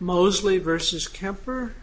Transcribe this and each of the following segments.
Moseley v. Kemper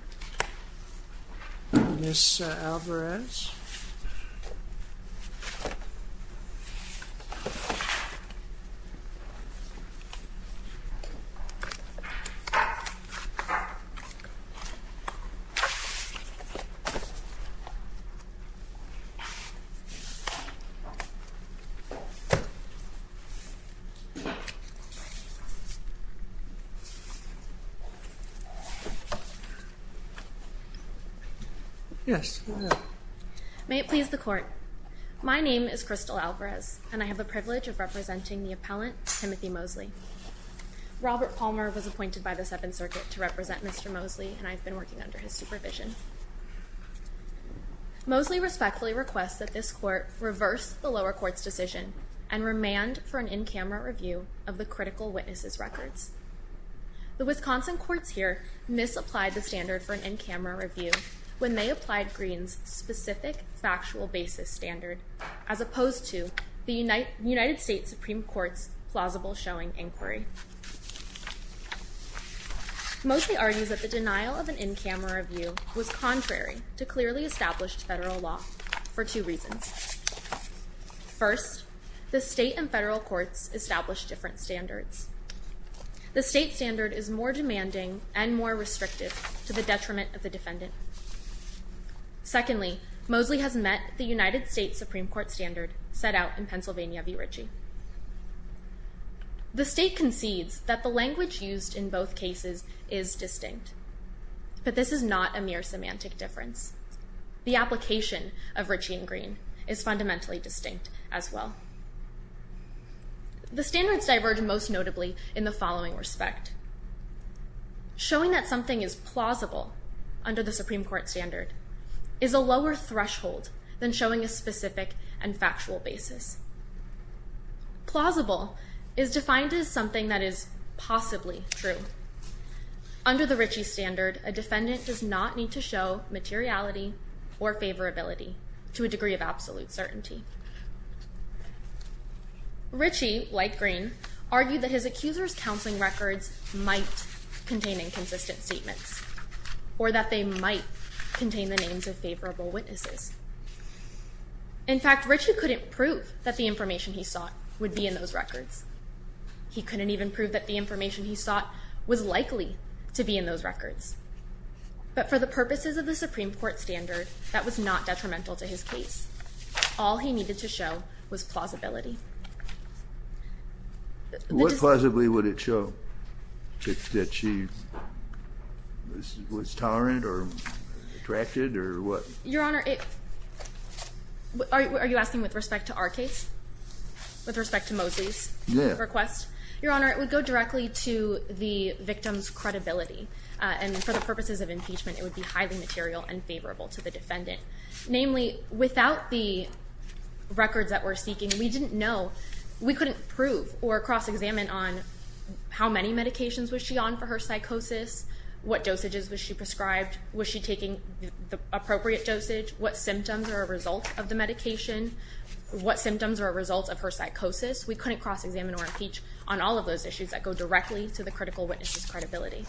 May it please the Court, my name is Crystal Alvarez, and I have the privilege of representing the appellant, Timothy Moseley. Robert Palmer was appointed by the Seventh Circuit to represent Mr. Moseley, and I have been working under his supervision. Moseley respectfully requests that this Court reverse the lower court's decision and remand The Wisconsin courts here misapplied the standard for an in-camera review when they applied Greene's specific factual basis standard, as opposed to the United States Supreme Court's plausible showing inquiry. Moseley argues that the denial of an in-camera review was contrary to clearly established federal law for two reasons. First, the state and federal courts establish different standards. The state standard is more demanding and more restrictive to the detriment of the defendant. Secondly, Moseley has met the United States Supreme Court standard set out in Pennsylvania v. Ritchie. The state concedes that the language used in both cases is distinct, but this is not a mere semantic difference. The application of Ritchie and Greene is fundamentally distinct as well. The standards diverge most notably in the following respect. Showing that something is plausible under the Supreme Court standard is a lower threshold than showing a specific and factual basis. Plausible is defined as something that is possibly true. Under the Ritchie standard, a defendant does not need to show materiality or favorability to a degree of absolute certainty. Ritchie, like Greene, argued that his accuser's counseling records might contain inconsistent statements, or that they might contain the names of favorable witnesses. In fact, Ritchie couldn't prove that the information he sought would be in those records. He couldn't even prove that the information he sought was likely to be in those records. But for the purposes of the Supreme Court standard, that was not detrimental to his case. All he needed to show was plausibility. What plausibility would it show? That she was tolerant or attracted or what? Your Honor, are you asking with respect to our case? With respect to Moseley's request? Your Honor, it would go directly to the victim's credibility. And for the purposes of impeachment, it would be highly material and favorable to the defendant. Namely, without the records that we're seeking, we didn't know. We couldn't prove or cross-examine on how many medications was she on for her psychosis? What dosages was she prescribed? Was she taking the appropriate dosage? What symptoms are a result of the medication? What symptoms are a result of her psychosis? We couldn't cross-examine or impeach on all of those issues that go directly to the critical witness's credibility.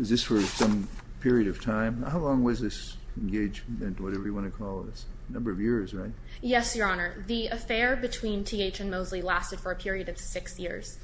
Is this for some period of time? How long was this engagement, whatever you want to call it? It's a number of years, right? Yes, Your Honor. The affair between T.H. and Moseley lasted for a period of six years.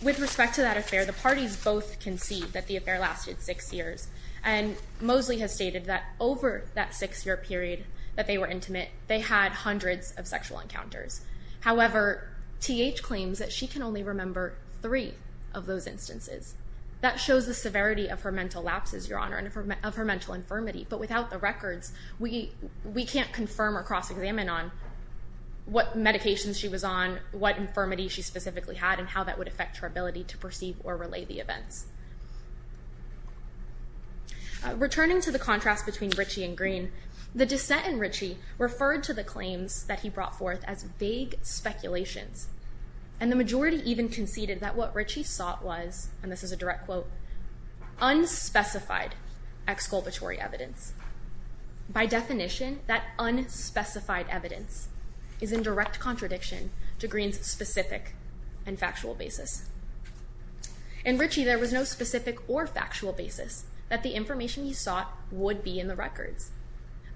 With respect to that affair, the parties both concede that the affair lasted six years. And Moseley has stated that over that six-year period that they were intimate, they had hundreds of sexual encounters. However, T.H. claims that she can only remember three of those instances. That shows the severity of her mental lapses, Your Honor, and of her mental infirmity. But without the records, we can't confirm or cross-examine on what medications she was on, what infirmity she specifically had, and how that would affect her ability to perceive or relay the events. Returning to the contrast between Ritchie and Greene, the dissent in Ritchie referred to the claims that he brought forth as vague speculations, and the majority even conceded that what Ritchie sought was, and this is a direct quote, unspecified exculpatory evidence. By definition, that unspecified evidence is in direct contradiction to Greene's specific and factual basis. In Ritchie, there was no specific or factual basis that the information he sought would be in the records.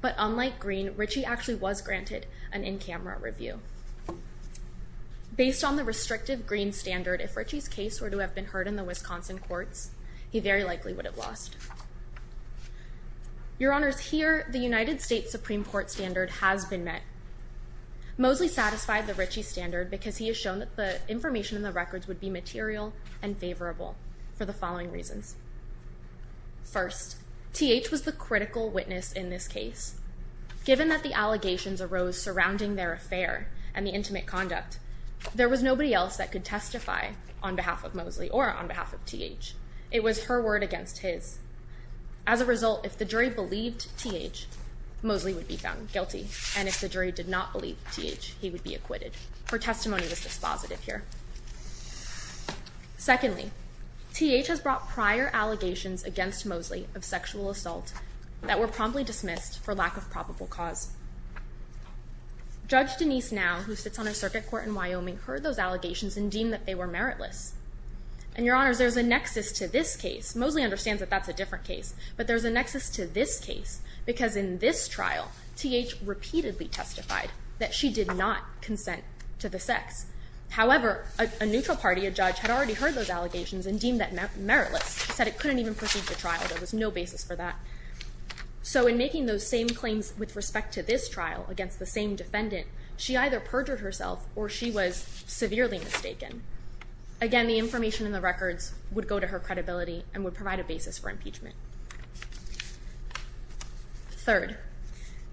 But unlike Greene, Ritchie actually was granted an in-camera review. Based on the restrictive Greene standard, if Ritchie's case were to have been heard in the Wisconsin courts, he very likely would have lost. Your Honors, here, the United States Supreme Court standard has been met. Moseley satisfied the Ritchie standard because he has shown that the information in the records would be material and favorable for the following reasons. First, T.H. was the critical witness in this case. Given that the allegations arose surrounding their affair and the intimate conduct, there was nobody else that could testify on behalf of Moseley or on behalf of T.H. It was her word against his. As a result, if the jury believed T.H., Moseley would be found guilty, and if the jury did not believe T.H., he would be acquitted. Her testimony was dispositive here. Secondly, T.H. has brought prior allegations against Moseley of sexual assault that were promptly dismissed for lack of probable cause. Judge Denise Now, who sits on a circuit court in Wyoming, heard those allegations and deemed that they were meritless. And, Your Honors, there's a nexus to this case. Moseley understands that that's a different case. But there's a nexus to this case because in this trial, T.H. repeatedly testified that she did not consent to the sex. However, a neutral party, a judge, had already heard those allegations and deemed that meritless. She said it couldn't even proceed to trial. There was no basis for that. So in making those same claims with respect to this trial against the same defendant, she either perjured herself or she was severely mistaken. Again, the information in the records would go to her credibility and would provide a basis for impeachment. Third,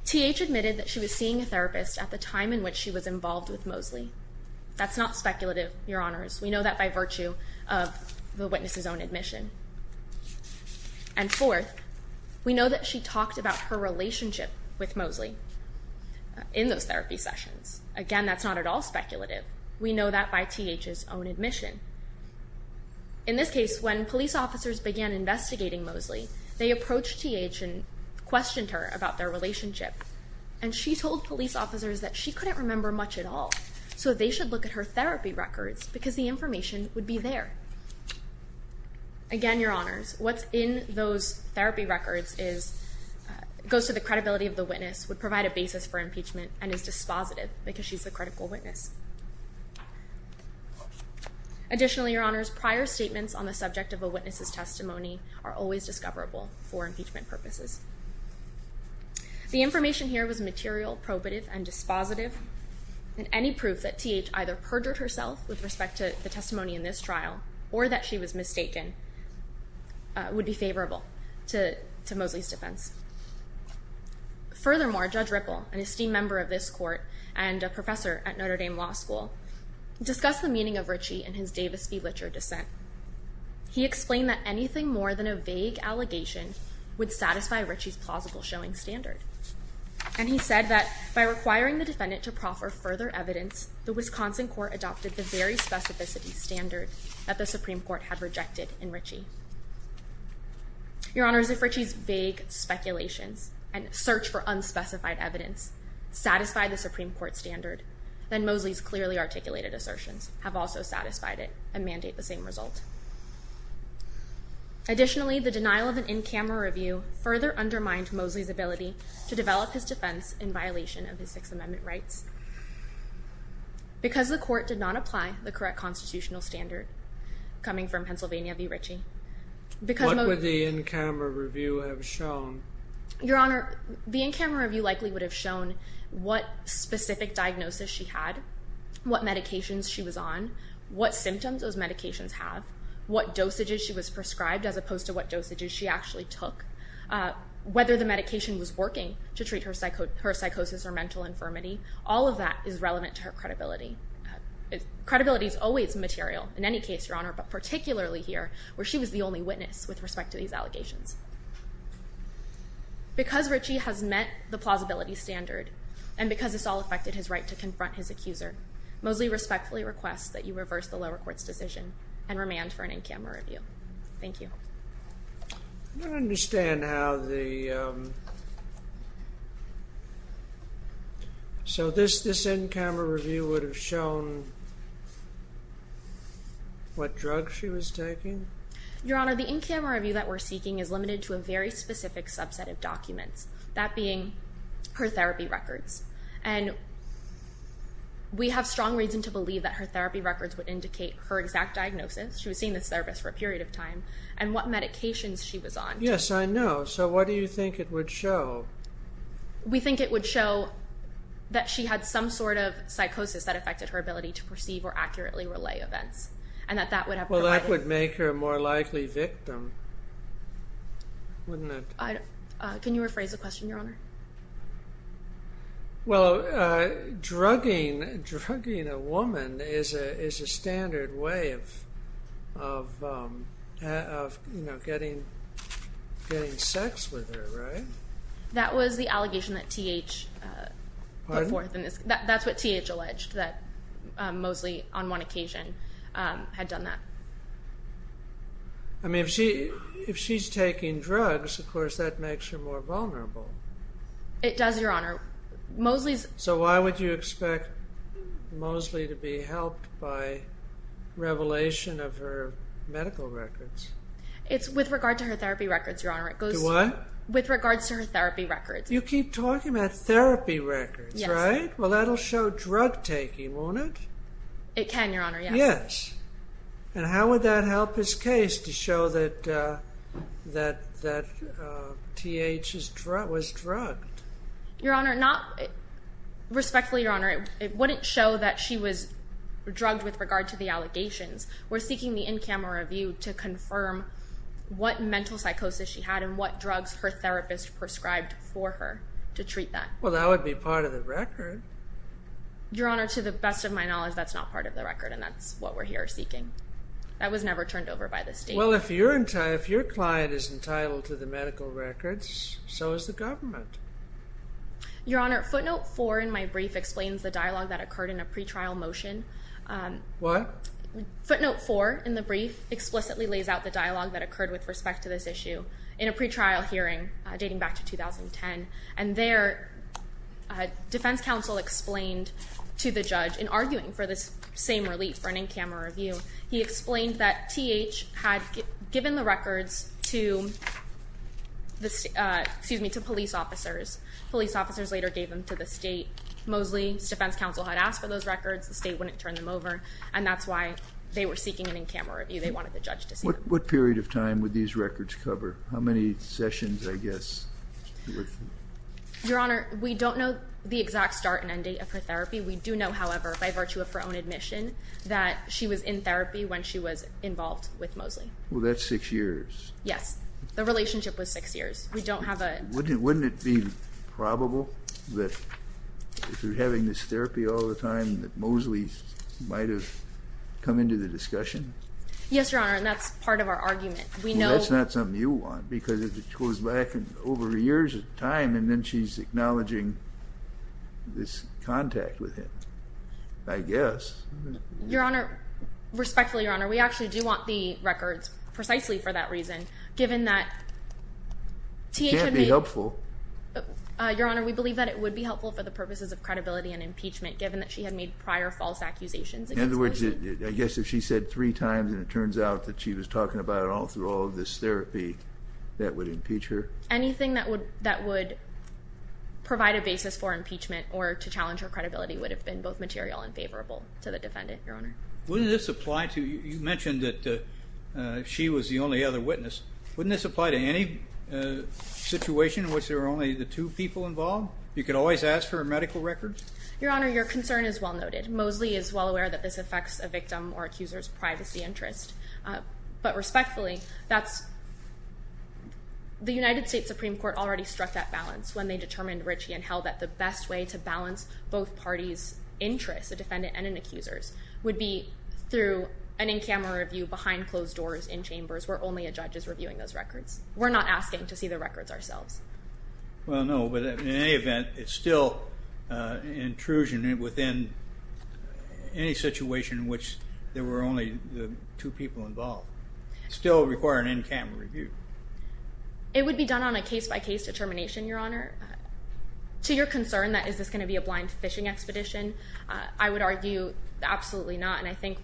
T.H. admitted that she was seeing a therapist at the time in which she was involved with Moseley. That's not speculative, Your Honors. We know that by virtue of the witness's own admission. And fourth, we know that she talked about her relationship with Moseley in those therapy sessions. Again, that's not at all speculative. We know that by T.H.'s own admission. In this case, when police officers began investigating Moseley, they approached T.H. and questioned her about their relationship. And she told police officers that she couldn't remember much at all. So they should look at her therapy records because the information would be there. Again, Your Honors, what's in those therapy records goes to the credibility of the witness, would provide a basis for impeachment, and is dispositive because she's a critical witness. Additionally, Your Honors, prior statements on the subject of a witness's testimony are always discoverable for impeachment purposes. The information here was material, probative, and dispositive. And any proof that T.H. either perjured herself with respect to the testimony in this trial or that she was mistaken would be favorable to Moseley's defense. Furthermore, Judge Ripple, an esteemed member of this court and a professor at Notre Dame Law School, discussed the meaning of Ritchie and his Davis v. Litcher dissent. He explained that anything more than a vague allegation would satisfy Ritchie's plausible showing standard. And he said that by requiring the defendant to proffer further evidence, the Wisconsin court adopted the very specificity standard that the Supreme Court had rejected in Ritchie. Your Honors, if Ritchie's vague speculations and search for unspecified evidence satisfied the Supreme Court standard, then Moseley's clearly articulated assertions have also satisfied it and mandate the same result. Additionally, the denial of an in-camera review further undermined Moseley's ability to develop his defense in violation of his Sixth Amendment rights. Because the court did not apply the correct constitutional standard, coming from Pennsylvania v. Ritchie. What would the in-camera review have shown? Your Honor, the in-camera review likely would have shown what specific diagnosis she had, what medications she was on, what symptoms those medications have, what dosages she was prescribed as opposed to what dosages she actually took, whether the medication was working to treat her psychosis or mental infirmity. All of that is relevant to her credibility. Credibility is always material in any case, Your Honor, but particularly here where she was the only witness with respect to these allegations. Because Ritchie has met the plausibility standard and because this all affected his right to confront his accuser, Moseley respectfully requests that you reverse the lower court's decision and remand for an in-camera review. Thank you. I don't understand how the, um, so this, this in-camera review would have shown what drug she was taking? Your Honor, the in-camera review that we're seeking is limited to a very specific subset of documents, that being her therapy records. And we have strong reason to believe that her therapy records would indicate her exact diagnosis. She was seeing this therapist for a period of time. And what medications she was on. Yes, I know. So what do you think it would show? We think it would show that she had some sort of psychosis that affected her ability to perceive or accurately relay events. And that that would have... Well, that would make her a more likely victim, wouldn't it? Can you rephrase the question, Your Honor? Well, uh, drugging, drugging a woman is a, is a standard way of, of, um, of, you know, getting, getting sex with her, right? That was the allegation that T.H., uh, put forth in this case. Pardon? That's what T.H. alleged, that, um, Moseley on one occasion, um, had done that. I mean, if she, if she's taking drugs, of course, that makes her more vulnerable. It does, Your Honor. Moseley's... So why would you expect Moseley to be helped by revelation of her medical records? It's with regard to her therapy records, Your Honor. It goes... Do what? With regards to her therapy records. You keep talking about therapy records, right? Yes. Well, that'll show drug taking, won't it? It can, Your Honor, yes. Yes. And how would that help this case to show that, uh, that, that, uh, T.H. was drugged? Your Honor, not... Respectfully, Your Honor, it wouldn't show that she was drugged with regard to the allegations. We're seeking the in-camera review to confirm what mental psychosis she had and what drugs her therapist prescribed for her to treat that. Well, that would be part of the record. Your Honor, to the best of my knowledge, that's not part of the record and that's what we're here seeking. That was never turned over by the state. Well, if you're... If your client is entitled to the medical records, so is the government. Your Honor, footnote four in my brief explains the dialogue that occurred in a pre-trial motion. Um... What? Footnote four in the brief explicitly lays out the dialogue that occurred with respect to this issue in a pre-trial hearing, uh, dating back to 2010, and there, uh, defense counsel explained to the judge, in arguing for this same relief for an in-camera review, he explained that T.H. had given the records to the, uh, excuse me, to police officers. Police officers later gave them to the state. Mosley's defense counsel had asked for those records, the state wouldn't turn them over, and that's why they were seeking an in-camera review. They wanted the judge to see them. What period of time would these records cover? How many sessions, I guess, would... Your Honor, we don't know the exact start and end date of her therapy. We do know, however, by virtue of her own admission, that she was in therapy when she was involved with Mosley. Well, that's six years. Yes. The relationship was six years. We don't have a... Wouldn't it be probable that, if you're having this therapy all the time, that Mosley might have come into the discussion? Yes, Your Honor, and that's part of our argument. We know... Well, that's not something you want, because if it goes back over years of time, and then she's acknowledging this contact with him, I guess... Your Honor, respectfully, Your Honor, we actually do want the records precisely for that reason, given that... It can't be helpful. Your Honor, we believe that it would be helpful for the purposes of credibility and impeachment, given that she had made prior false accusations against Mosley. In other words, I guess if she said three times, and it turns out that she was talking about it all through all of this therapy, that would impeach her? Anything that would provide a basis for impeachment, or to challenge her credibility, would have been both material and favorable to the defendant, Your Honor. Wouldn't this apply to... You mentioned that she was the only other witness. Wouldn't this apply to any situation in which there were only the two people involved? You could always ask for a medical record? Your Honor, your concern is well noted. Mosley is well aware that this affects a victim or accuser's privacy interest. But respectfully, that's... The United States Supreme Court already struck that balance when they determined, Ritchie and Held, that the best way to balance both parties' interests, a defendant and an accuser's, would be through an in-camera review behind closed doors, in chambers, where only a judge is reviewing those records. We're not asking to see the records ourselves. Well, no, but in any event, it's still an intrusion within any situation in which there are two people involved. It would still require an in-camera review. It would be done on a case-by-case determination, Your Honor. To your concern, that is this going to be a blind fishing expedition, I would argue absolutely not. And I think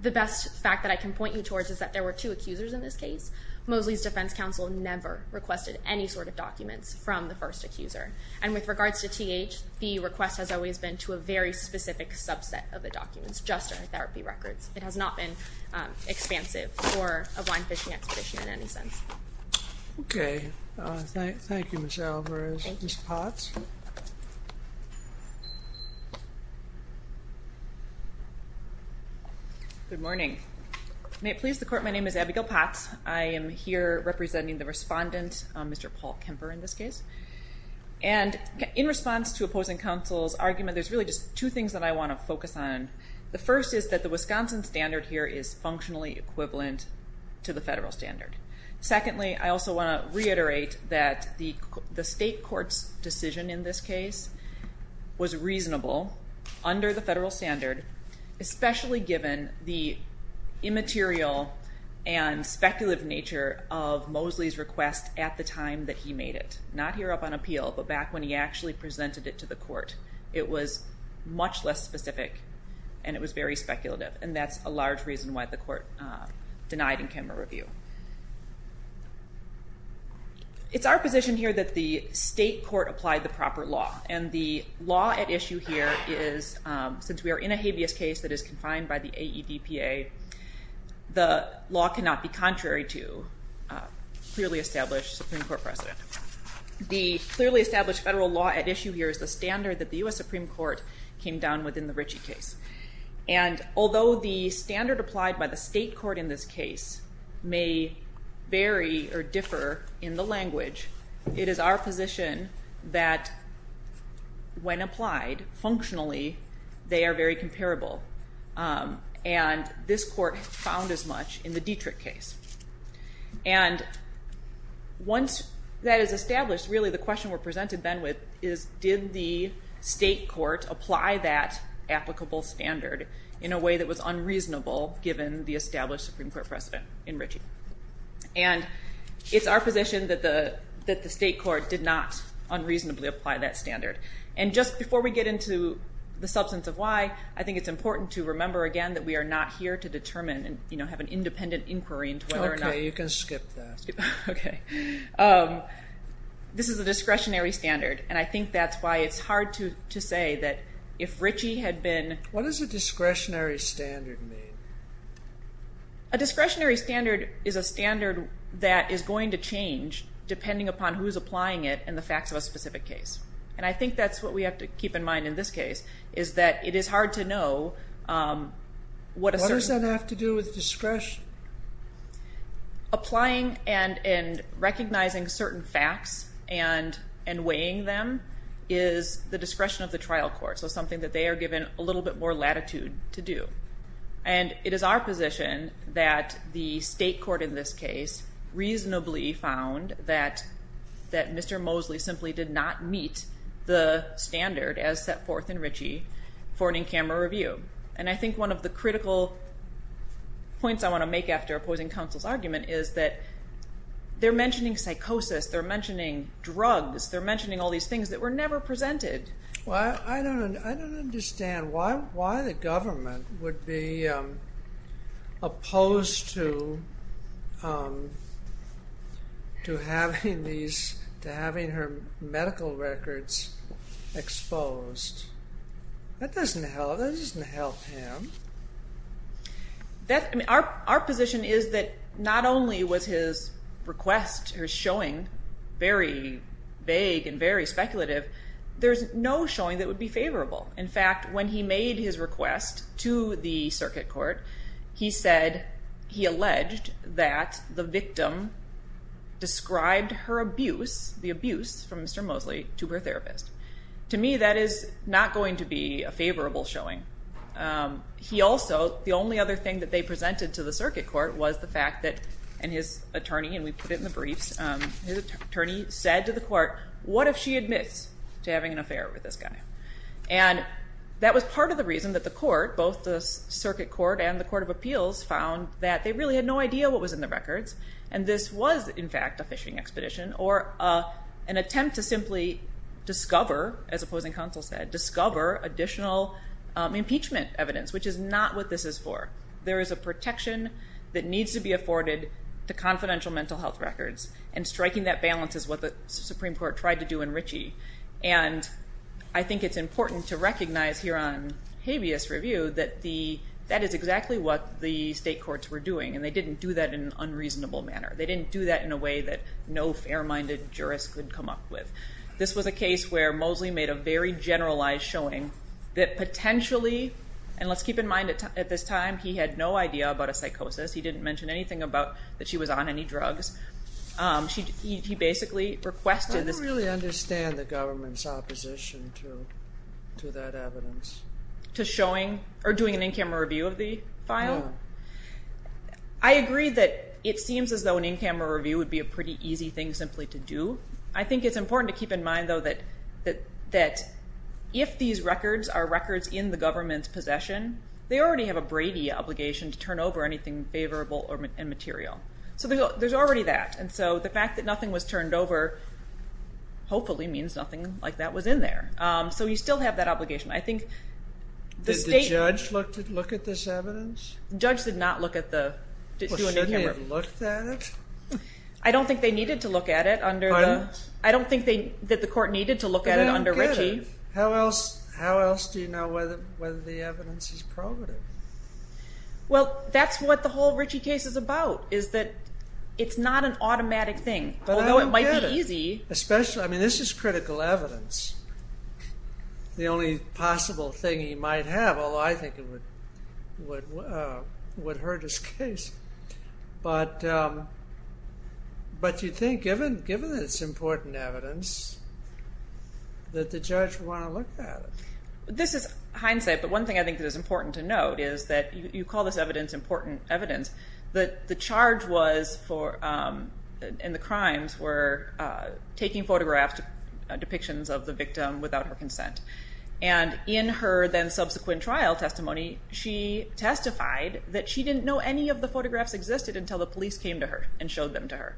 the best fact that I can point you towards is that there were two accusers in this case. Mosley's defense counsel never requested any sort of documents from the first accuser. And with regards to TH, the request has always been to a very specific subset of the documents, just her therapy records. It has not been expansive for a blind fishing expedition in any sense. Okay. Thank you, Ms. Alvarez. Ms. Potts? Good morning. May it please the Court, my name is Abigail Potts. I am here representing the respondent, Mr. Paul Kemper, in this case. And in response to opposing counsel's argument, there's really just two things that I want to focus on. The first is that the Wisconsin standard here is functionally equivalent to the federal standard. Secondly, I also want to reiterate that the state court's decision in this case was reasonable under the federal standard, especially given the immaterial and speculative nature of Mosley's request at the time that he made it. Not here up on appeal, but back when he actually presented it to the court. It was much less specific, and it was very speculative. And that's a large reason why the court denied in Kemper review. It's our position here that the state court applied the proper law. And the law at issue here is, since we are in a habeas case that is confined by the AEDPA, the law cannot be contrary to clearly established Supreme Court precedent. The clearly established federal law at issue here is the standard that the U.S. Supreme Court came down with in the Ritchie case. And although the standard applied by the state court in this case may vary or differ in the language, it is our position that when applied functionally, they are very comparable. And this court found as much in the Dietrich case. And once that is established, really the question we're presented then with is, did the state court apply that applicable standard in a way that was unreasonable given the established Supreme Court precedent in Ritchie? And it's our position that the state court did not unreasonably apply that standard. And just before we get into the substance of why, I think it's important to remember again that we are not here to determine and, you know, have an independent inquiry into whether or not... Okay, you can skip that. Okay. This is a discretionary standard, and I think that's why it's hard to say that if Ritchie had been... What does a discretionary standard mean? A discretionary standard is a standard that is going to change depending upon who's applying it and the facts of a specific case. And I think that's what we have to keep in mind in this case, is that it is hard to know what a certain... What does that have to do with discretion? Applying and recognizing certain facts and weighing them is the discretion of the trial court, so something that they are given a little bit more latitude to do. And it is our position that the state court in this case reasonably found that Mr. Mosley simply did not meet the standard as set forth in Ritchie for an in-camera review. And I think one of the critical points I want to make after opposing counsel's argument is that they're mentioning psychosis, they're mentioning drugs, they're mentioning all these things that were never presented. Well, I don't understand why the government would be opposed to having her medical records exposed. That doesn't help him. Our position is that not only was his request, his showing, very vague and very speculative, there's no showing that would be favorable. In fact, when he made his request to the circuit court, he said... He alleged that the victim described her abuse, the abuse from Mr. Mosley to her therapist. To me, that is not going to be a favorable showing. He also... The only other thing that they presented to the circuit court was the fact that... And his attorney, and we put it in the briefs, his attorney said to the court, what if she admits to having an affair with this guy? And that was part of the reason that the court, both the circuit court and the court of appeals, found that they really had no idea what was in the records, and this was, in fact, a phishing expedition or an attempt to simply discover, as opposing counsel said, discover additional impeachment evidence, which is not what this is for. There is a protection that needs to be afforded to confidential mental health records, and And I think it's important to recognize here on habeas review that that is exactly what the state courts were doing, and they didn't do that in an unreasonable manner. They didn't do that in a way that no fair-minded jurist could come up with. This was a case where Mosley made a very generalized showing that potentially, and let's keep in mind at this time, he had no idea about a psychosis. He didn't mention anything about that she was on any drugs. He basically requested this. I don't really understand the government's opposition to that evidence. To showing or doing an in-camera review of the file? No. I agree that it seems as though an in-camera review would be a pretty easy thing simply to do. I think it's important to keep in mind, though, that if these records are records in the government's possession, they already have a Brady obligation to turn over anything favorable or immaterial. So there's already that, and so the fact that nothing was turned over hopefully means nothing like that was in there. So you still have that obligation. I think the state... Did the judge look at this evidence? The judge did not look at the... Well, shouldn't they have looked at it? I don't think they needed to look at it under the... I don't get it. I don't think that the court needed to look at it under Ritchie. How else do you know whether the evidence is probative? Well, that's what the whole Ritchie case is about, is that it's not an automatic thing. Although it might be easy... But I don't get it. Especially... I mean, this is critical evidence. The only possible thing he might have, although I think it would hurt his case. But you'd think, given that it's important evidence, that the judge would want to look at it. This is hindsight, but one thing I think that is important to note is that you call this evidence important evidence. The charge was for... And the crimes were taking photographs, depictions of the victim without her consent. And in her then subsequent trial testimony, she testified that she didn't know any of the photographs existed until the police came to her and showed them to her,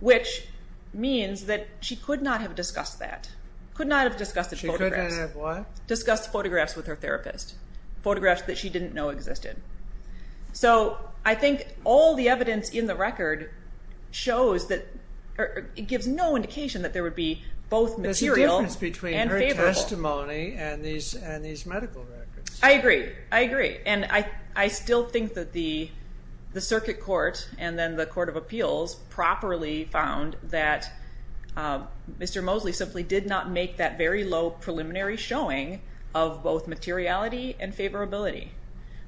which means that she could not have discussed that, could not have discussed the photographs. She could not have what? Discussed the photographs with her therapist. Photographs that she didn't know existed. So I think all the evidence in the record shows that... It gives no indication that there would be both material and favorable. There's a difference between her testimony and these medical records. I agree, I agree. And I still think that the Circuit Court and then the Court of Appeals properly found that Mr. Mosley simply did not make that very low preliminary showing of both materiality and favorability,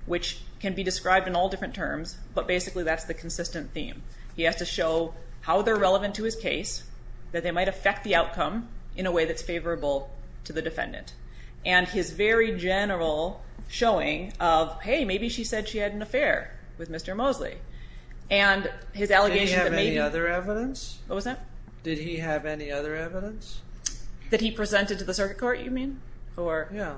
which can be described in all different terms, but basically that's the consistent theme. He has to show how they're relevant to his case, that they might affect the outcome in a way that's favorable to the defendant. And his very general showing of, hey, maybe she said she had an affair with Mr. Mosley. And his allegation that maybe... Did he have any other evidence? What was that? Did he have any other evidence? That he presented to the Circuit Court, you mean? Yeah.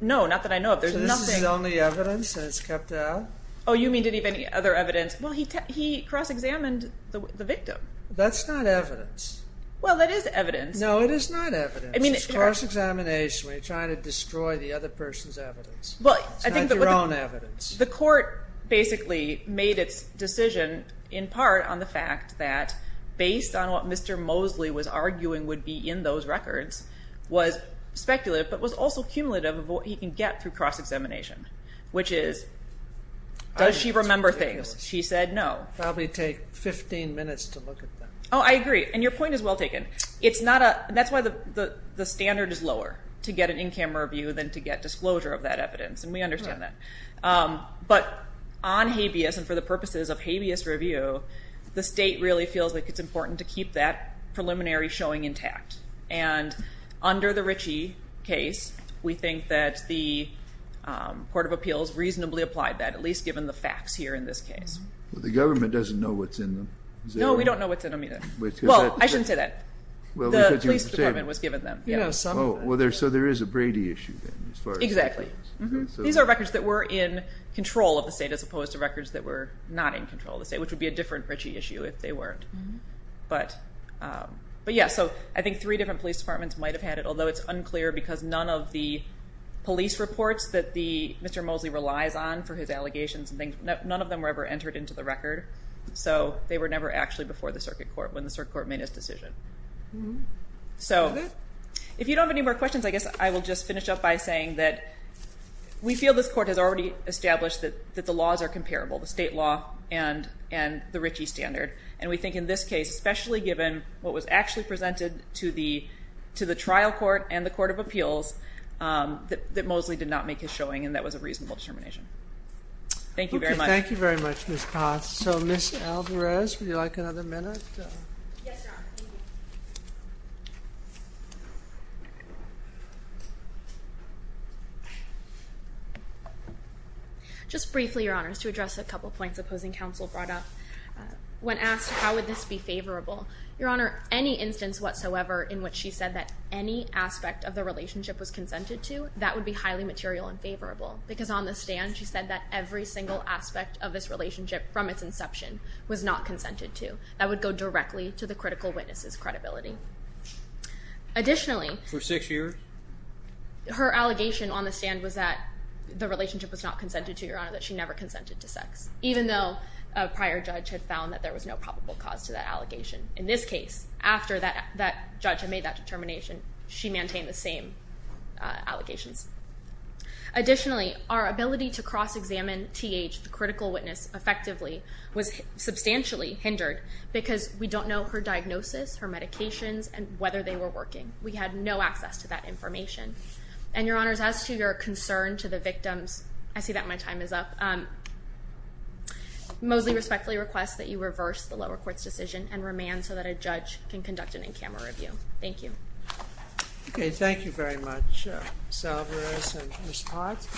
No, not that I know of. So this is the only evidence and it's kept out? Oh, you mean did he have any other evidence? Well, he cross-examined the victim. That's not evidence. Well, that is evidence. No, it is not evidence. It's cross-examination where you're trying to destroy the other person's evidence. It's not your own evidence. The court basically made its decision in part on the fact that, based on what Mr. Mosley was arguing would be in those records, was speculative but was also cumulative of what he can get through cross-examination, which is, does she remember things? She said no. Probably take 15 minutes to look at them. Oh, I agree. And your point is well taken. That's why the standard is lower to get an in-camera review than to get disclosure of that evidence, and we understand that. But on habeas and for the purposes of habeas review, the state really feels like it's important to keep that preliminary showing intact. And under the Ritchie case, we think that the Court of Appeals reasonably applied that, at least given the facts here in this case. The government doesn't know what's in them. No, we don't know what's in them either. Well, I shouldn't say that. The police department was given them. So there is a Brady issue then as far as that goes. Exactly. These are records that were in control of the state as opposed to records that were not in control of the state, which would be a different Ritchie issue if they weren't. But, yeah, so I think three different police departments might have had it, although it's unclear because none of the police reports that Mr. Mosley relies on for his allegations and things, none of them were ever entered into the record. So they were never actually before the circuit court when the circuit court made its decision. So if you don't have any more questions, I guess I will just finish up by saying that we feel this Court has already established that the laws are comparable, the state law and the Ritchie standard, and we think in this case, especially given what was actually presented to the trial court and the Court of Appeals, that Mosley did not make his showing, and that was a reasonable determination. Thank you very much. Thank you very much, Ms. Potts. So, Ms. Alvarez, would you like another minute? Yes, Your Honor. Thank you. Just briefly, Your Honors, to address a couple of points opposing counsel brought up. When asked how would this be favorable, Your Honor, any instance whatsoever in which she said that any aspect of the relationship was consented to, that would be highly material and favorable, because on the stand she said that every single aspect of this relationship from its inception was not consented to. That would go directly to the critical witness's credibility. Additionally, For six years? Her allegation on the stand was that the relationship was not consented to, Your Honor, that she never consented to sex, even though a prior judge had found that there was no probable cause to that allegation. In this case, after that judge had made that determination, she maintained the same allegations. Additionally, our ability to cross-examine TH, the critical witness, effectively was substantially hindered because we don't know her diagnosis, her medications, and whether they were working. We had no access to that information. And Your Honors, as to your concern to the victims, I see that my time is up, Mosley respectfully requests that you reverse the lower court's decision and remand so that a judge can conduct an in-camera review. Thank you. Okay. Thank you very much, Salvarez and Ms. Potts.